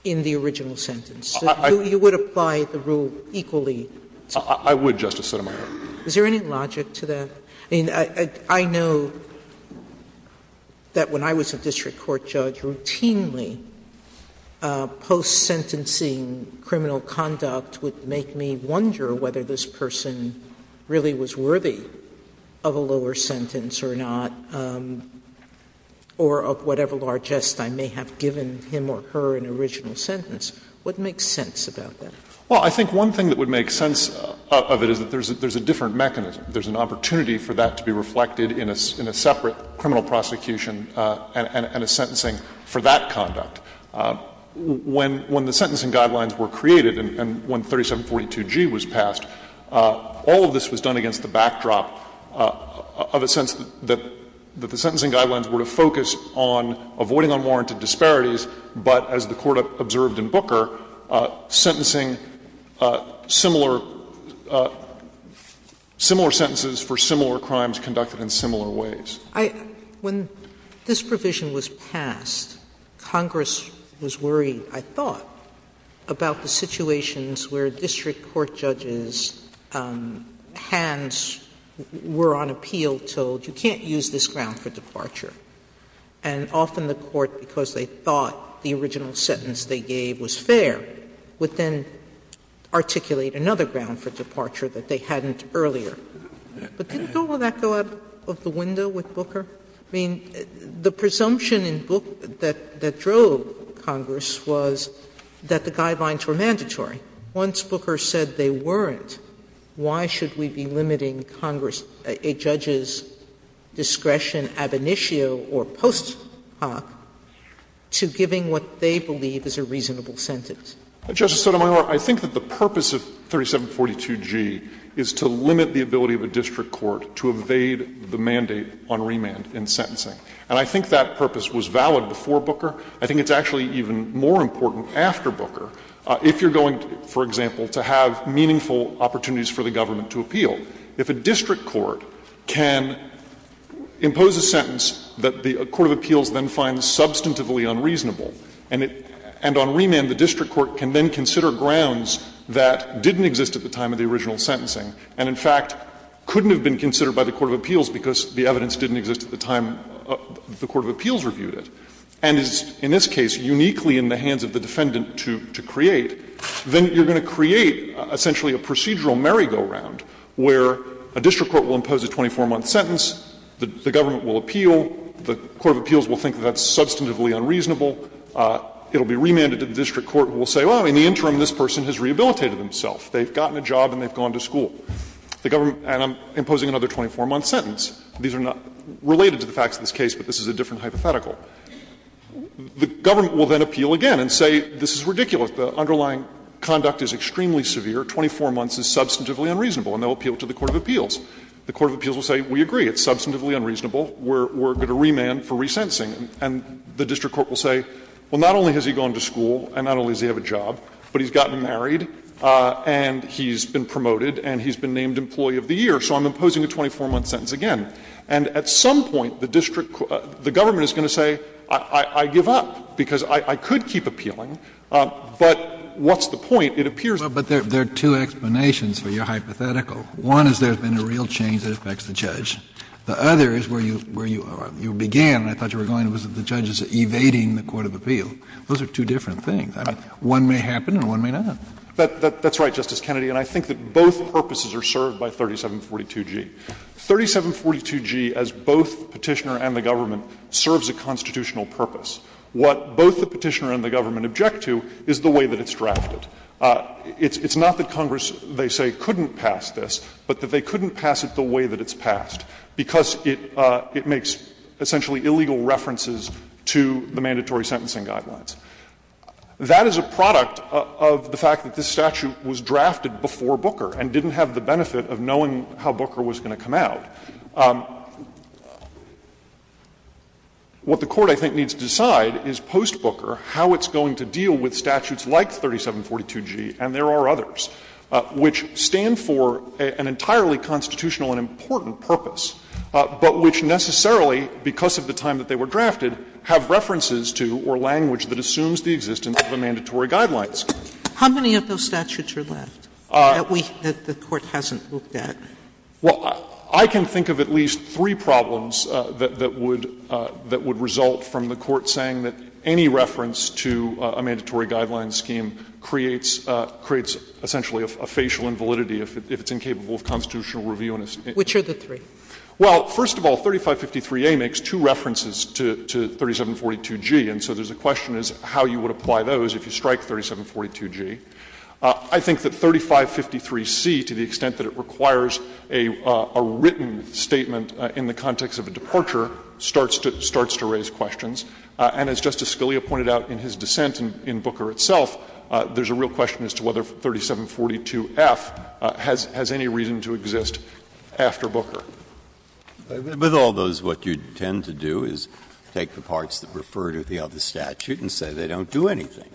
in the original sentence. You would apply the rule equally. I would, Justice Sotomayor. Is there any logic to that? I mean, I know that when I was a district court judge, routinely post-sentencing criminal conduct would make me wonder whether this person really was worthy of a lower sentence or not, or of whatever largesse I may have given him or her in the original sentence. What makes sense about that? Well, I think one thing that would make sense of it is that there's a different mechanism. There's an opportunity for that to be reflected in a separate criminal prosecution and a sentencing for that conduct. When the sentencing guidelines were created and when 3742G was passed, all of this was done against the backdrop of a sense that the sentencing guidelines were to focus on avoiding unwarranted disparities, but as the Court observed in Booker, sentencing similar sentences for similar crimes conducted in similar ways. When this provision was passed, Congress was worried, I thought, about the situations where district court judges' hands were on appeal, told you can't use this ground for departure. And often the Court, because they thought the original sentence they gave was fair, would then articulate another ground for departure that they hadn't earlier. But didn't all of that go out of the window with Booker? I mean, the presumption in Booker that drove Congress was that the guidelines were mandatory. Once Booker said they weren't, why should we be limiting Congress, a judge's discretion, ab initio or post hoc, to giving what they believe is a reasonable sentence? Justice Sotomayor, I think that the purpose of 3742G is to limit the ability of a district court to evade the mandate on remand in sentencing. And I think that purpose was valid before Booker. I think it's actually even more important after Booker if you're going, for example, to have meaningful opportunities for the government to appeal. If a district court can impose a sentence that the court of appeals then finds substantively unreasonable, and on remand the district court can then consider grounds that didn't exist at the time of the original sentencing and, in fact, couldn't have been considered by the court of appeals because the evidence didn't exist at the time the court of appeals reviewed it, and is, in this case, uniquely in the hands of the defendant to create, then you're going to create essentially a procedural merry-go-round where a district court will impose a 24-month sentence, the government will appeal, the court of appeals will think that that's substantively unreasonable, it will be remanded to the district court who will say, well, in the interim, this person has rehabilitated himself, they've gotten a job and they've gone to school, and I'm imposing another 24-month sentence. These are not related to the facts of this case, but this is a different hypothetical. The government will then appeal again and say, this is ridiculous, the underlying conduct is extremely severe, 24 months is substantively unreasonable, and they'll appeal to the court of appeals. The court of appeals will say, we agree, it's substantively unreasonable, we're going to remand for resentencing, and the district court will say, well, not only has he gone to school and not only does he have a job, but he's gotten married and he's been promoted and he's been named employee of the year, so I'm imposing a 24-month sentence again. And at some point the district court, the government is going to say, I give up, because I could keep appealing, but what's the point? It appears that the district court has given up. Kennedy. But there are two explanations for your hypothetical. One is there has been a real change that affects the judge. The other is where you began, and I thought you were going, was that the judge is evading the court of appeal. Those are two different things. One may happen and one may not. That's right, Justice Kennedy, and I think that both purposes are served by 3742g. 3742g, as both Petitioner and the government, serves a constitutional purpose. What both the Petitioner and the government object to is the way that it's drafted. It's not that Congress, they say, couldn't pass this, but that they couldn't pass it the way that it's passed, because it makes essentially illegal references to the mandatory sentencing guidelines. That is a product of the fact that this statute was drafted before Booker and didn't have the benefit of knowing how Booker was going to come out. What the Court, I think, needs to decide is, post Booker, how it's going to deal with statutes like 3742g, and there are others, which stand for an entirely constitutional and important purpose, but which necessarily, because of the time that they were drafted, have references to or language that assumes the existence of the mandatory guidelines. Sotomayor, How many of those statutes are left that we — that the Court hasn't looked at? Well, I can think of at least three problems that would result from the Court saying that any reference to a mandatory guidelines scheme creates essentially a facial invalidity if it's incapable of constitutional review. Which are the three? Well, first of all, 3553a makes two references to 3742g, and so there's a question as to how you would apply those if you strike 3742g. I think that 3553c, to the extent that it requires a written statement in the context of a departure, starts to raise questions. And as Justice Scalia pointed out in his dissent in Booker itself, there's a real question as to whether 3742f has any reason to exist after Booker. Breyer, with all those, what you tend to do is take the parts that refer to the other statute and say they don't do anything.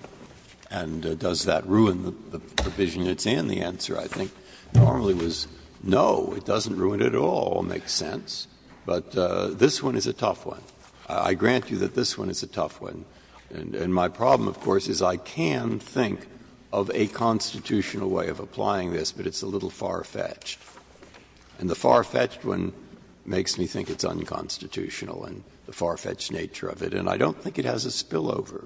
And does that ruin the provision that's in the answer? I think normally it was, no, it doesn't ruin it at all, makes sense. But this one is a tough one. I grant you that this one is a tough one. And my problem, of course, is I can think of a constitutional way of applying this, but it's a little far-fetched. And the far-fetched one makes me think it's unconstitutional and the far-fetched nature of it. And I don't think it has a spillover.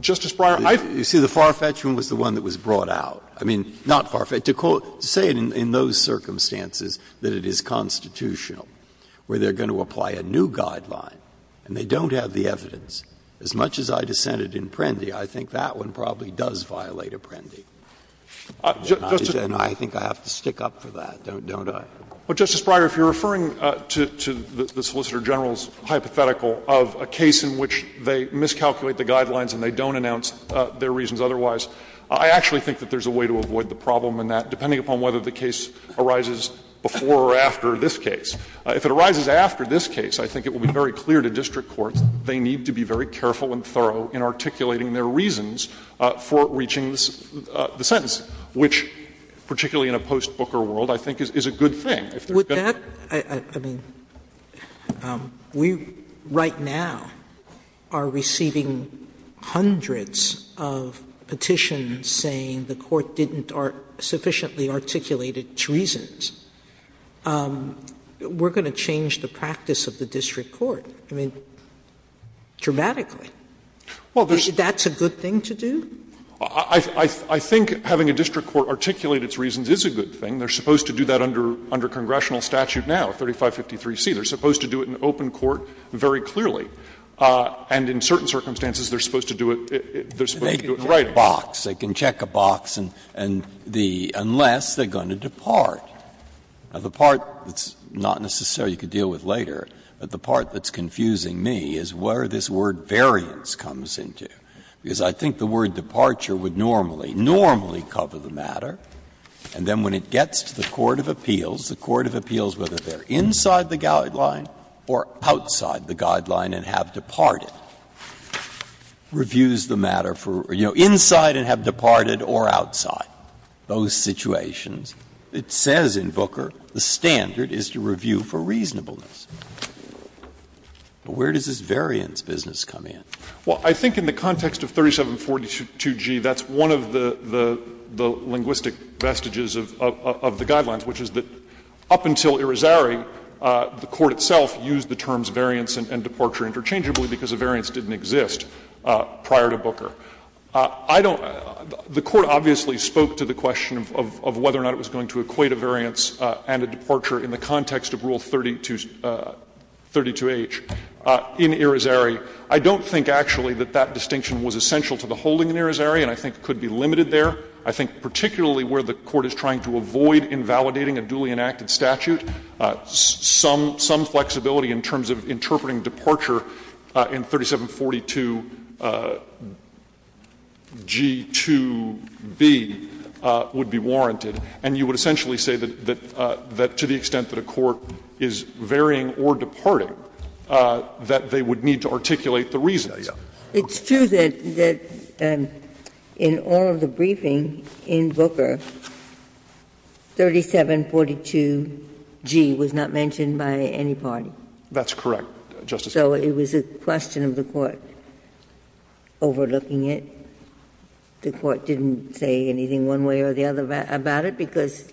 Justice Breyer, I've Breyer, you see, the far-fetched one was the one that was brought out. I mean, not far-fetched. To say in those circumstances that it is constitutional, where they're going to apply a new guideline, and they don't have the evidence, as much as I dissented in Prendy, I think that one probably does violate Apprendi. And I think I have to stick up for that, don't I? Well, Justice Breyer, if you're referring to the Solicitor General's hypothetical of a case in which they miscalculate the guidelines and they don't announce their reasons otherwise, I actually think that there's a way to avoid the problem in that, depending upon whether the case arises before or after this case. If it arises after this case, I think it will be very clear to district courts they need to be very careful and thorough in articulating their reasons for reaching the sentence, which, particularly in a post-Booker world, I think is a good thing. Sotomayor, I mean, we right now are receiving hundreds of petitions saying the court didn't sufficiently articulate its reasons. We're going to change the practice of the district court, I mean, dramatically. That's a good thing to do? I think having a district court articulate its reasons is a good thing. They're supposed to do that under congressional statute now, 3553C. They're supposed to do it in open court very clearly. And in certain circumstances, they're supposed to do it in writing. Breyer, they can check a box, and the unless they're going to depart. Now, the part that's not necessarily you could deal with later, but the part that's confusing me is where this word variance comes into, because I think the word departure would normally, normally cover the matter, and then when it gets to the court of appeals, the court of appeals, whether they're inside the guideline or outside the guideline and have departed, reviews the matter for, you know, inside and have departed or outside those situations. It says in Booker the standard is to review for reasonableness. But where does this variance business come in? Well, I think in the context of 3742G, that's one of the linguistic vestiges of the guidelines, which is that up until Irizarry, the court itself used the terms variance and departure interchangeably because a variance didn't exist prior to Booker. I don't — the court obviously spoke to the question of whether or not it was going to equate a variance and a departure in the context of Rule 32H in Irizarry. I don't think actually that that distinction was essential to the holding in Irizarry, and I think it could be limited there. I think particularly where the court is trying to avoid invalidating a duly enacted statute, some flexibility in terms of interpreting departure in 3742G2B would be warranted. And you would essentially say that to the extent that a court is varying or departing, that they would need to articulate the reasons. Ginsburg. It's true that in all of the briefing in Booker, 3742G was not mentioned by any party. That's correct, Justice Ginsburg. So it was a question of the court overlooking it. The court didn't say anything one way or the other about it because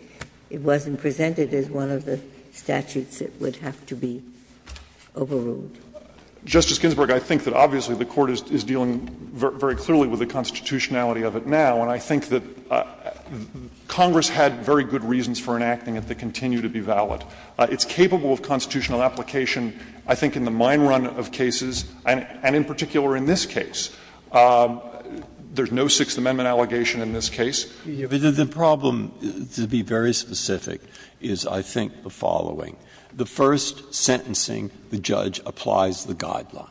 it wasn't presented as one of the statutes that would have to be overruled. Justice Ginsburg, I think that obviously the court is dealing very clearly with the constitutionality of it now, and I think that Congress had very good reasons for enacting it that continue to be valid. It's capable of constitutional application, I think, in the mine run of cases, and in particular in this case. There's no Sixth Amendment allegation in this case. Breyer. The problem, to be very specific, is I think the following. The first sentencing, the judge applies the guideline.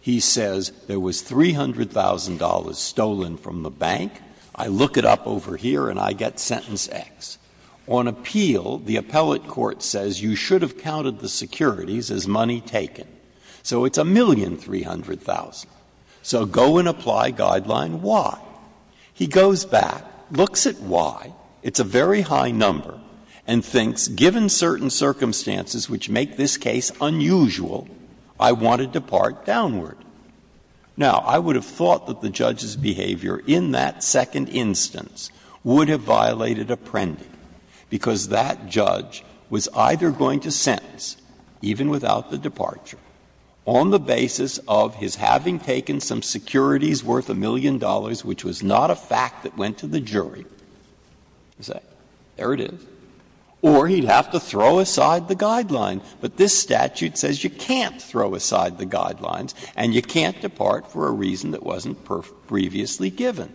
He says there was $300,000 stolen from the bank. I look it up over here and I get sentence X. On appeal, the appellate court says you should have counted the securities as money taken. So it's $1,300,000. So go and apply Guideline Y. He goes back, looks at Y, it's a very high number, and thinks given certain circumstances which make this case unusual, I want to depart downward. Now, I would have thought that the judge's behavior in that second instance would have violated apprending, because that judge was either going to sentence, even without the departure, on the basis of his having taken some securities worth a million dollars, which was not a fact that went to the jury, there it is, or he'd have to throw aside the guideline. But this statute says you can't throw aside the guidelines and you can't depart for a reason that wasn't previously given.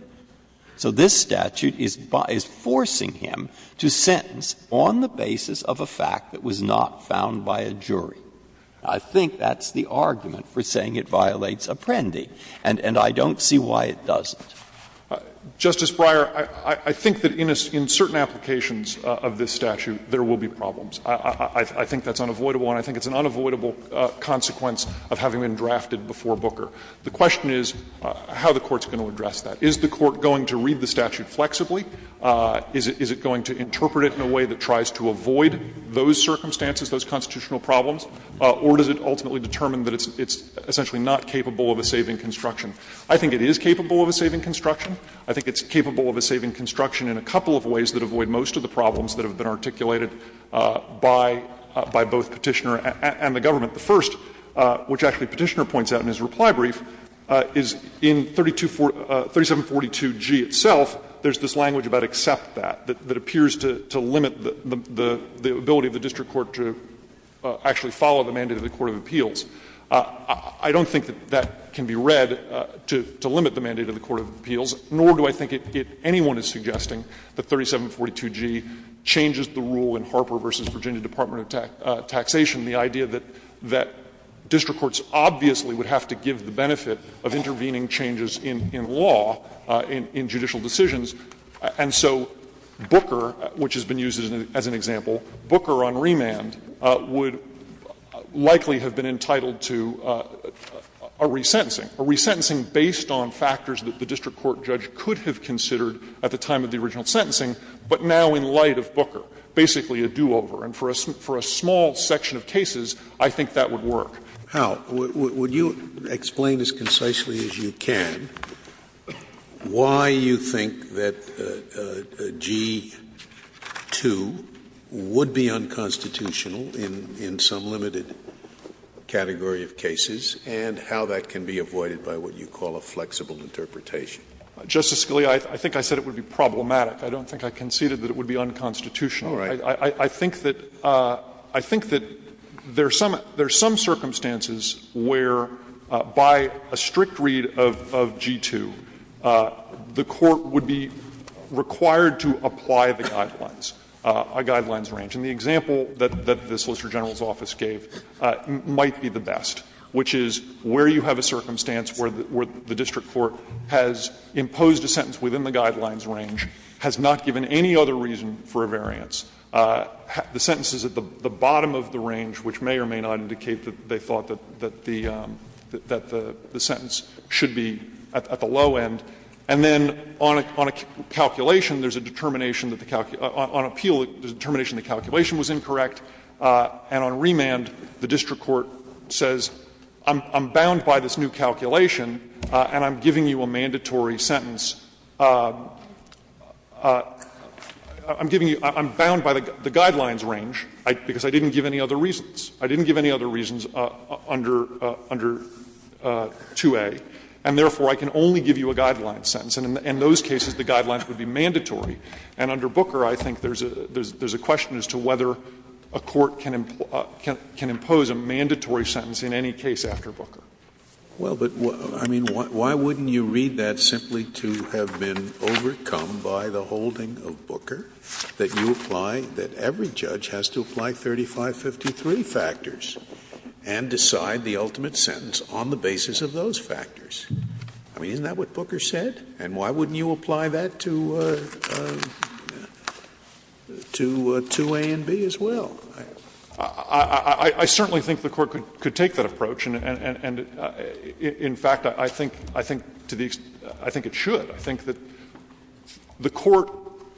So this statute is forcing him to sentence on the basis of a fact that was not found by a jury. I think that's the argument for saying it violates apprending, and I don't see why it doesn't. Justice Breyer, I think that in certain applications of this statute, there will be problems. I think that's unavoidable, and I think it's an unavoidable consequence of having been drafted before Booker. The question is how the Court's going to address that. Is the Court going to read the statute flexibly? Is it going to interpret it in a way that tries to avoid those circumstances, those constitutional problems? Or does it ultimately determine that it's essentially not capable of a saving construction? I think it is capable of a saving construction. I think it's capable of a saving construction in a couple of ways that avoid most of the problems that have been articulated by both Petitioner and the government. The first, which actually Petitioner points out in his reply brief, is in 3742G itself, there's this language about accept that, that appears to limit the ability of the district court to actually follow the mandate of the court of appeals. I don't think that that can be read to limit the mandate of the court of appeals, nor do I think it anyone is suggesting that 3742G changes the rule in Harper v. Virginia Department of Taxation, the idea that district courts obviously would have to give the benefit of intervening changes in law, in judicial decisions. And so Booker, which has been used as an example, Booker on remand, would likely have been entitled to a resentencing, a resentencing based on factors that the district court judge could have considered at the time of the original sentencing, but now in light of Booker, basically a do-over. And for a small section of cases, I think that would work. Scalia, would you explain as concisely as you can why you think that G2 would be unconstitutional in some limited category of cases and how that can be avoided by what you call a flexible interpretation? Justice Scalia, I think I said it would be problematic. I don't think I conceded that it would be unconstitutional. I think that there are some circumstances where, by a strict read of G2, the court would be required to apply the guidelines, a guidelines range. And the example that the Solicitor General's office gave might be the best, which is where you have a circumstance where the district court has imposed a sentence within the guidelines range, has not given any other reason for a variance, the sentence is at the bottom of the range, which may or may not indicate that they thought that the sentence should be at the low end, and then on a calculation, there is a determination that the calculation was incorrect, and on remand, the district court says, I'm bound by this new calculation, and I'm giving you a mandatory sentence. I'm giving you, I'm bound by the guidelines range, because I didn't give any other reasons. I didn't give any other reasons under 2A, and therefore, I can only give you a guidelines sentence. And in those cases, the guidelines would be mandatory. And under Booker, I think there is a question as to whether a court can impose a mandatory sentence in any case after Booker. Scalia. Well, but, I mean, why wouldn't you read that simply to have been overcome by the holding of Booker, that you apply, that every judge has to apply 3553 factors and decide the ultimate sentence on the basis of those factors? I mean, isn't that what Booker said? And why wouldn't you apply that to 2A and B as well? I certainly think the Court could take that approach, and in fact, I think to the extent, I think it should. I think that the Court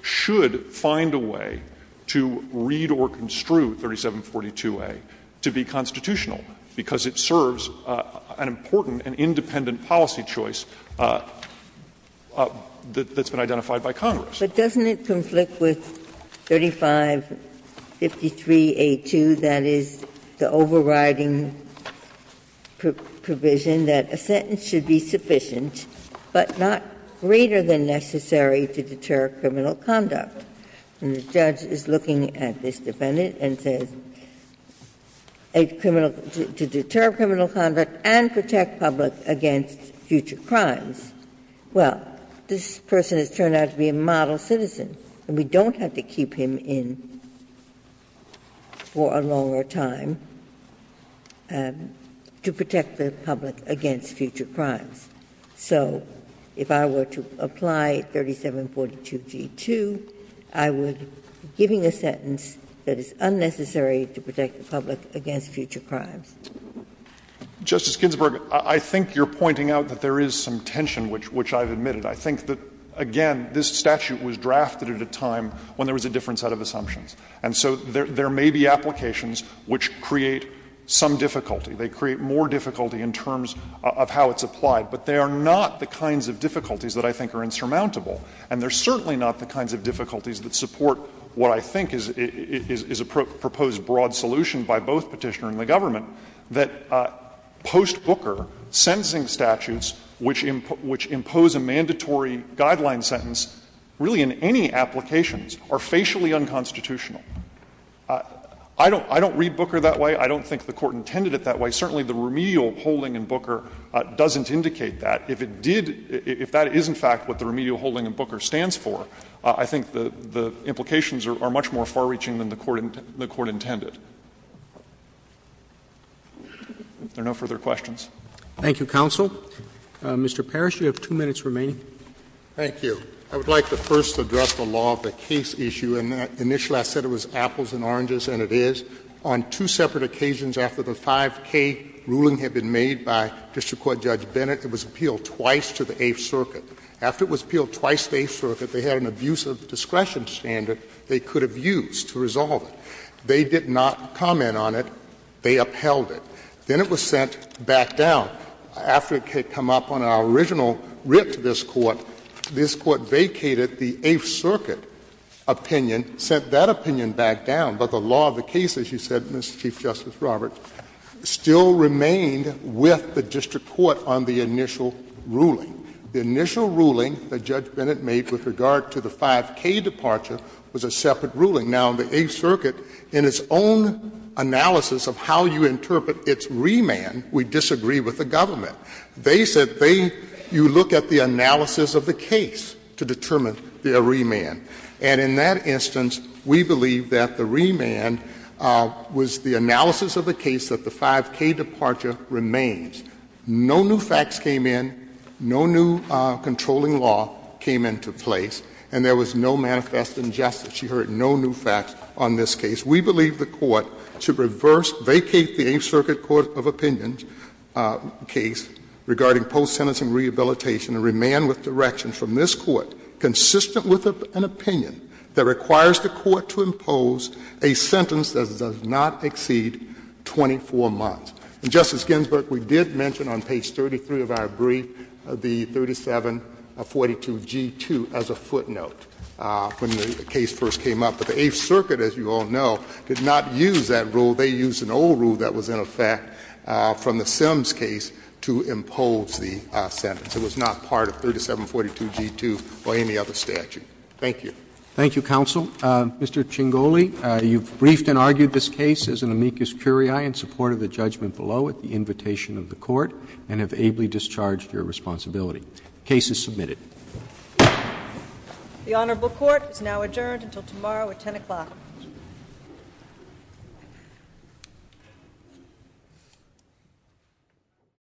should find a way to read or construe 3742A to be constitutional, because it serves an important and independent policy choice that's been identified by Congress. But doesn't it conflict with 3553A2, that is, the overriding provision that a sentence should be sufficient, but not greater than necessary to deter criminal conduct? And the judge is looking at this defendant and says a criminal to deter criminal conduct and protect public against future crimes. Well, this person has turned out to be a model citizen, and we don't have to keep him in for a longer time to protect the public against future crimes. So if I were to apply 3742G2, I would be giving a sentence that is unnecessary to protect the public against future crimes. Fisherman, Justice Ginsburg, I think you're pointing out that there is some tension which I've admitted. I think that, again, this statute was drafted at a time when there was a different set of assumptions. And so there may be applications which create some difficulty. They create more difficulty in terms of how it's applied. But they are not the kinds of difficulties that I think are insurmountable. And they're certainly not the kinds of difficulties that support what I think is a proposed broad solution by both Petitioner and the government, that post-Booker, sentencing statutes which impose a mandatory guideline sentence really in any applications are facially unconstitutional. I don't read Booker that way. I don't think the Court intended it that way. Certainly, the remedial holding in Booker doesn't indicate that. If it did, if that is in fact what the remedial holding in Booker stands for, I think the implications are much more far-reaching than the Court intended. If there are no further questions. Roberts. Thank you, counsel. Mr. Parrish, you have two minutes remaining. Thank you. I would like to first address the law of the case issue. And initially I said it was apples and oranges, and it is. On two separate occasions after the 5K ruling had been made by District Court Judge Bennett, it was appealed twice to the Eighth Circuit. After it was appealed twice to the Eighth Circuit, they had an abusive discretion standard they could have used to resolve it. They did not comment on it. They upheld it. Then it was sent back down. After it had come up on our original writ to this Court, this Court vacated the Eighth Circuit opinion, sent that opinion back down. But the law of the case, as you said, Mr. Chief Justice Roberts, still remained with the District Court on the initial ruling. The initial ruling that Judge Bennett made with regard to the 5K departure was a separate ruling. Now, the Eighth Circuit, in its own analysis of how you interpret its remand, we disagree with the government. They said they you look at the analysis of the case to determine their remand. And in that instance, we believe that the remand was the analysis of the case that the 5K departure remains. No new facts came in, no new controlling law came into place, and there was no manifest injustice. She heard no new facts on this case. We believe the Court should reverse, vacate the Eighth Circuit court of opinion case regarding post-sentencing rehabilitation and remand with direction from this opinion that requires the Court to impose a sentence that does not exceed 24 months. And Justice Ginsburg, we did mention on page 33 of our brief the 3742G2 as a footnote when the case first came up. But the Eighth Circuit, as you all know, did not use that rule. They used an old rule that was in effect from the Sims case to impose the sentence. It was not part of 3742G2 or any other statute. Thank you. Roberts. Thank you, counsel. Mr. Chingoli, you've briefed and argued this case as an amicus curiae in support of the judgment below at the invitation of the Court and have ably discharged your responsibility. The case is submitted. The Honorable Court is now adjourned until tomorrow at 10 o'clock.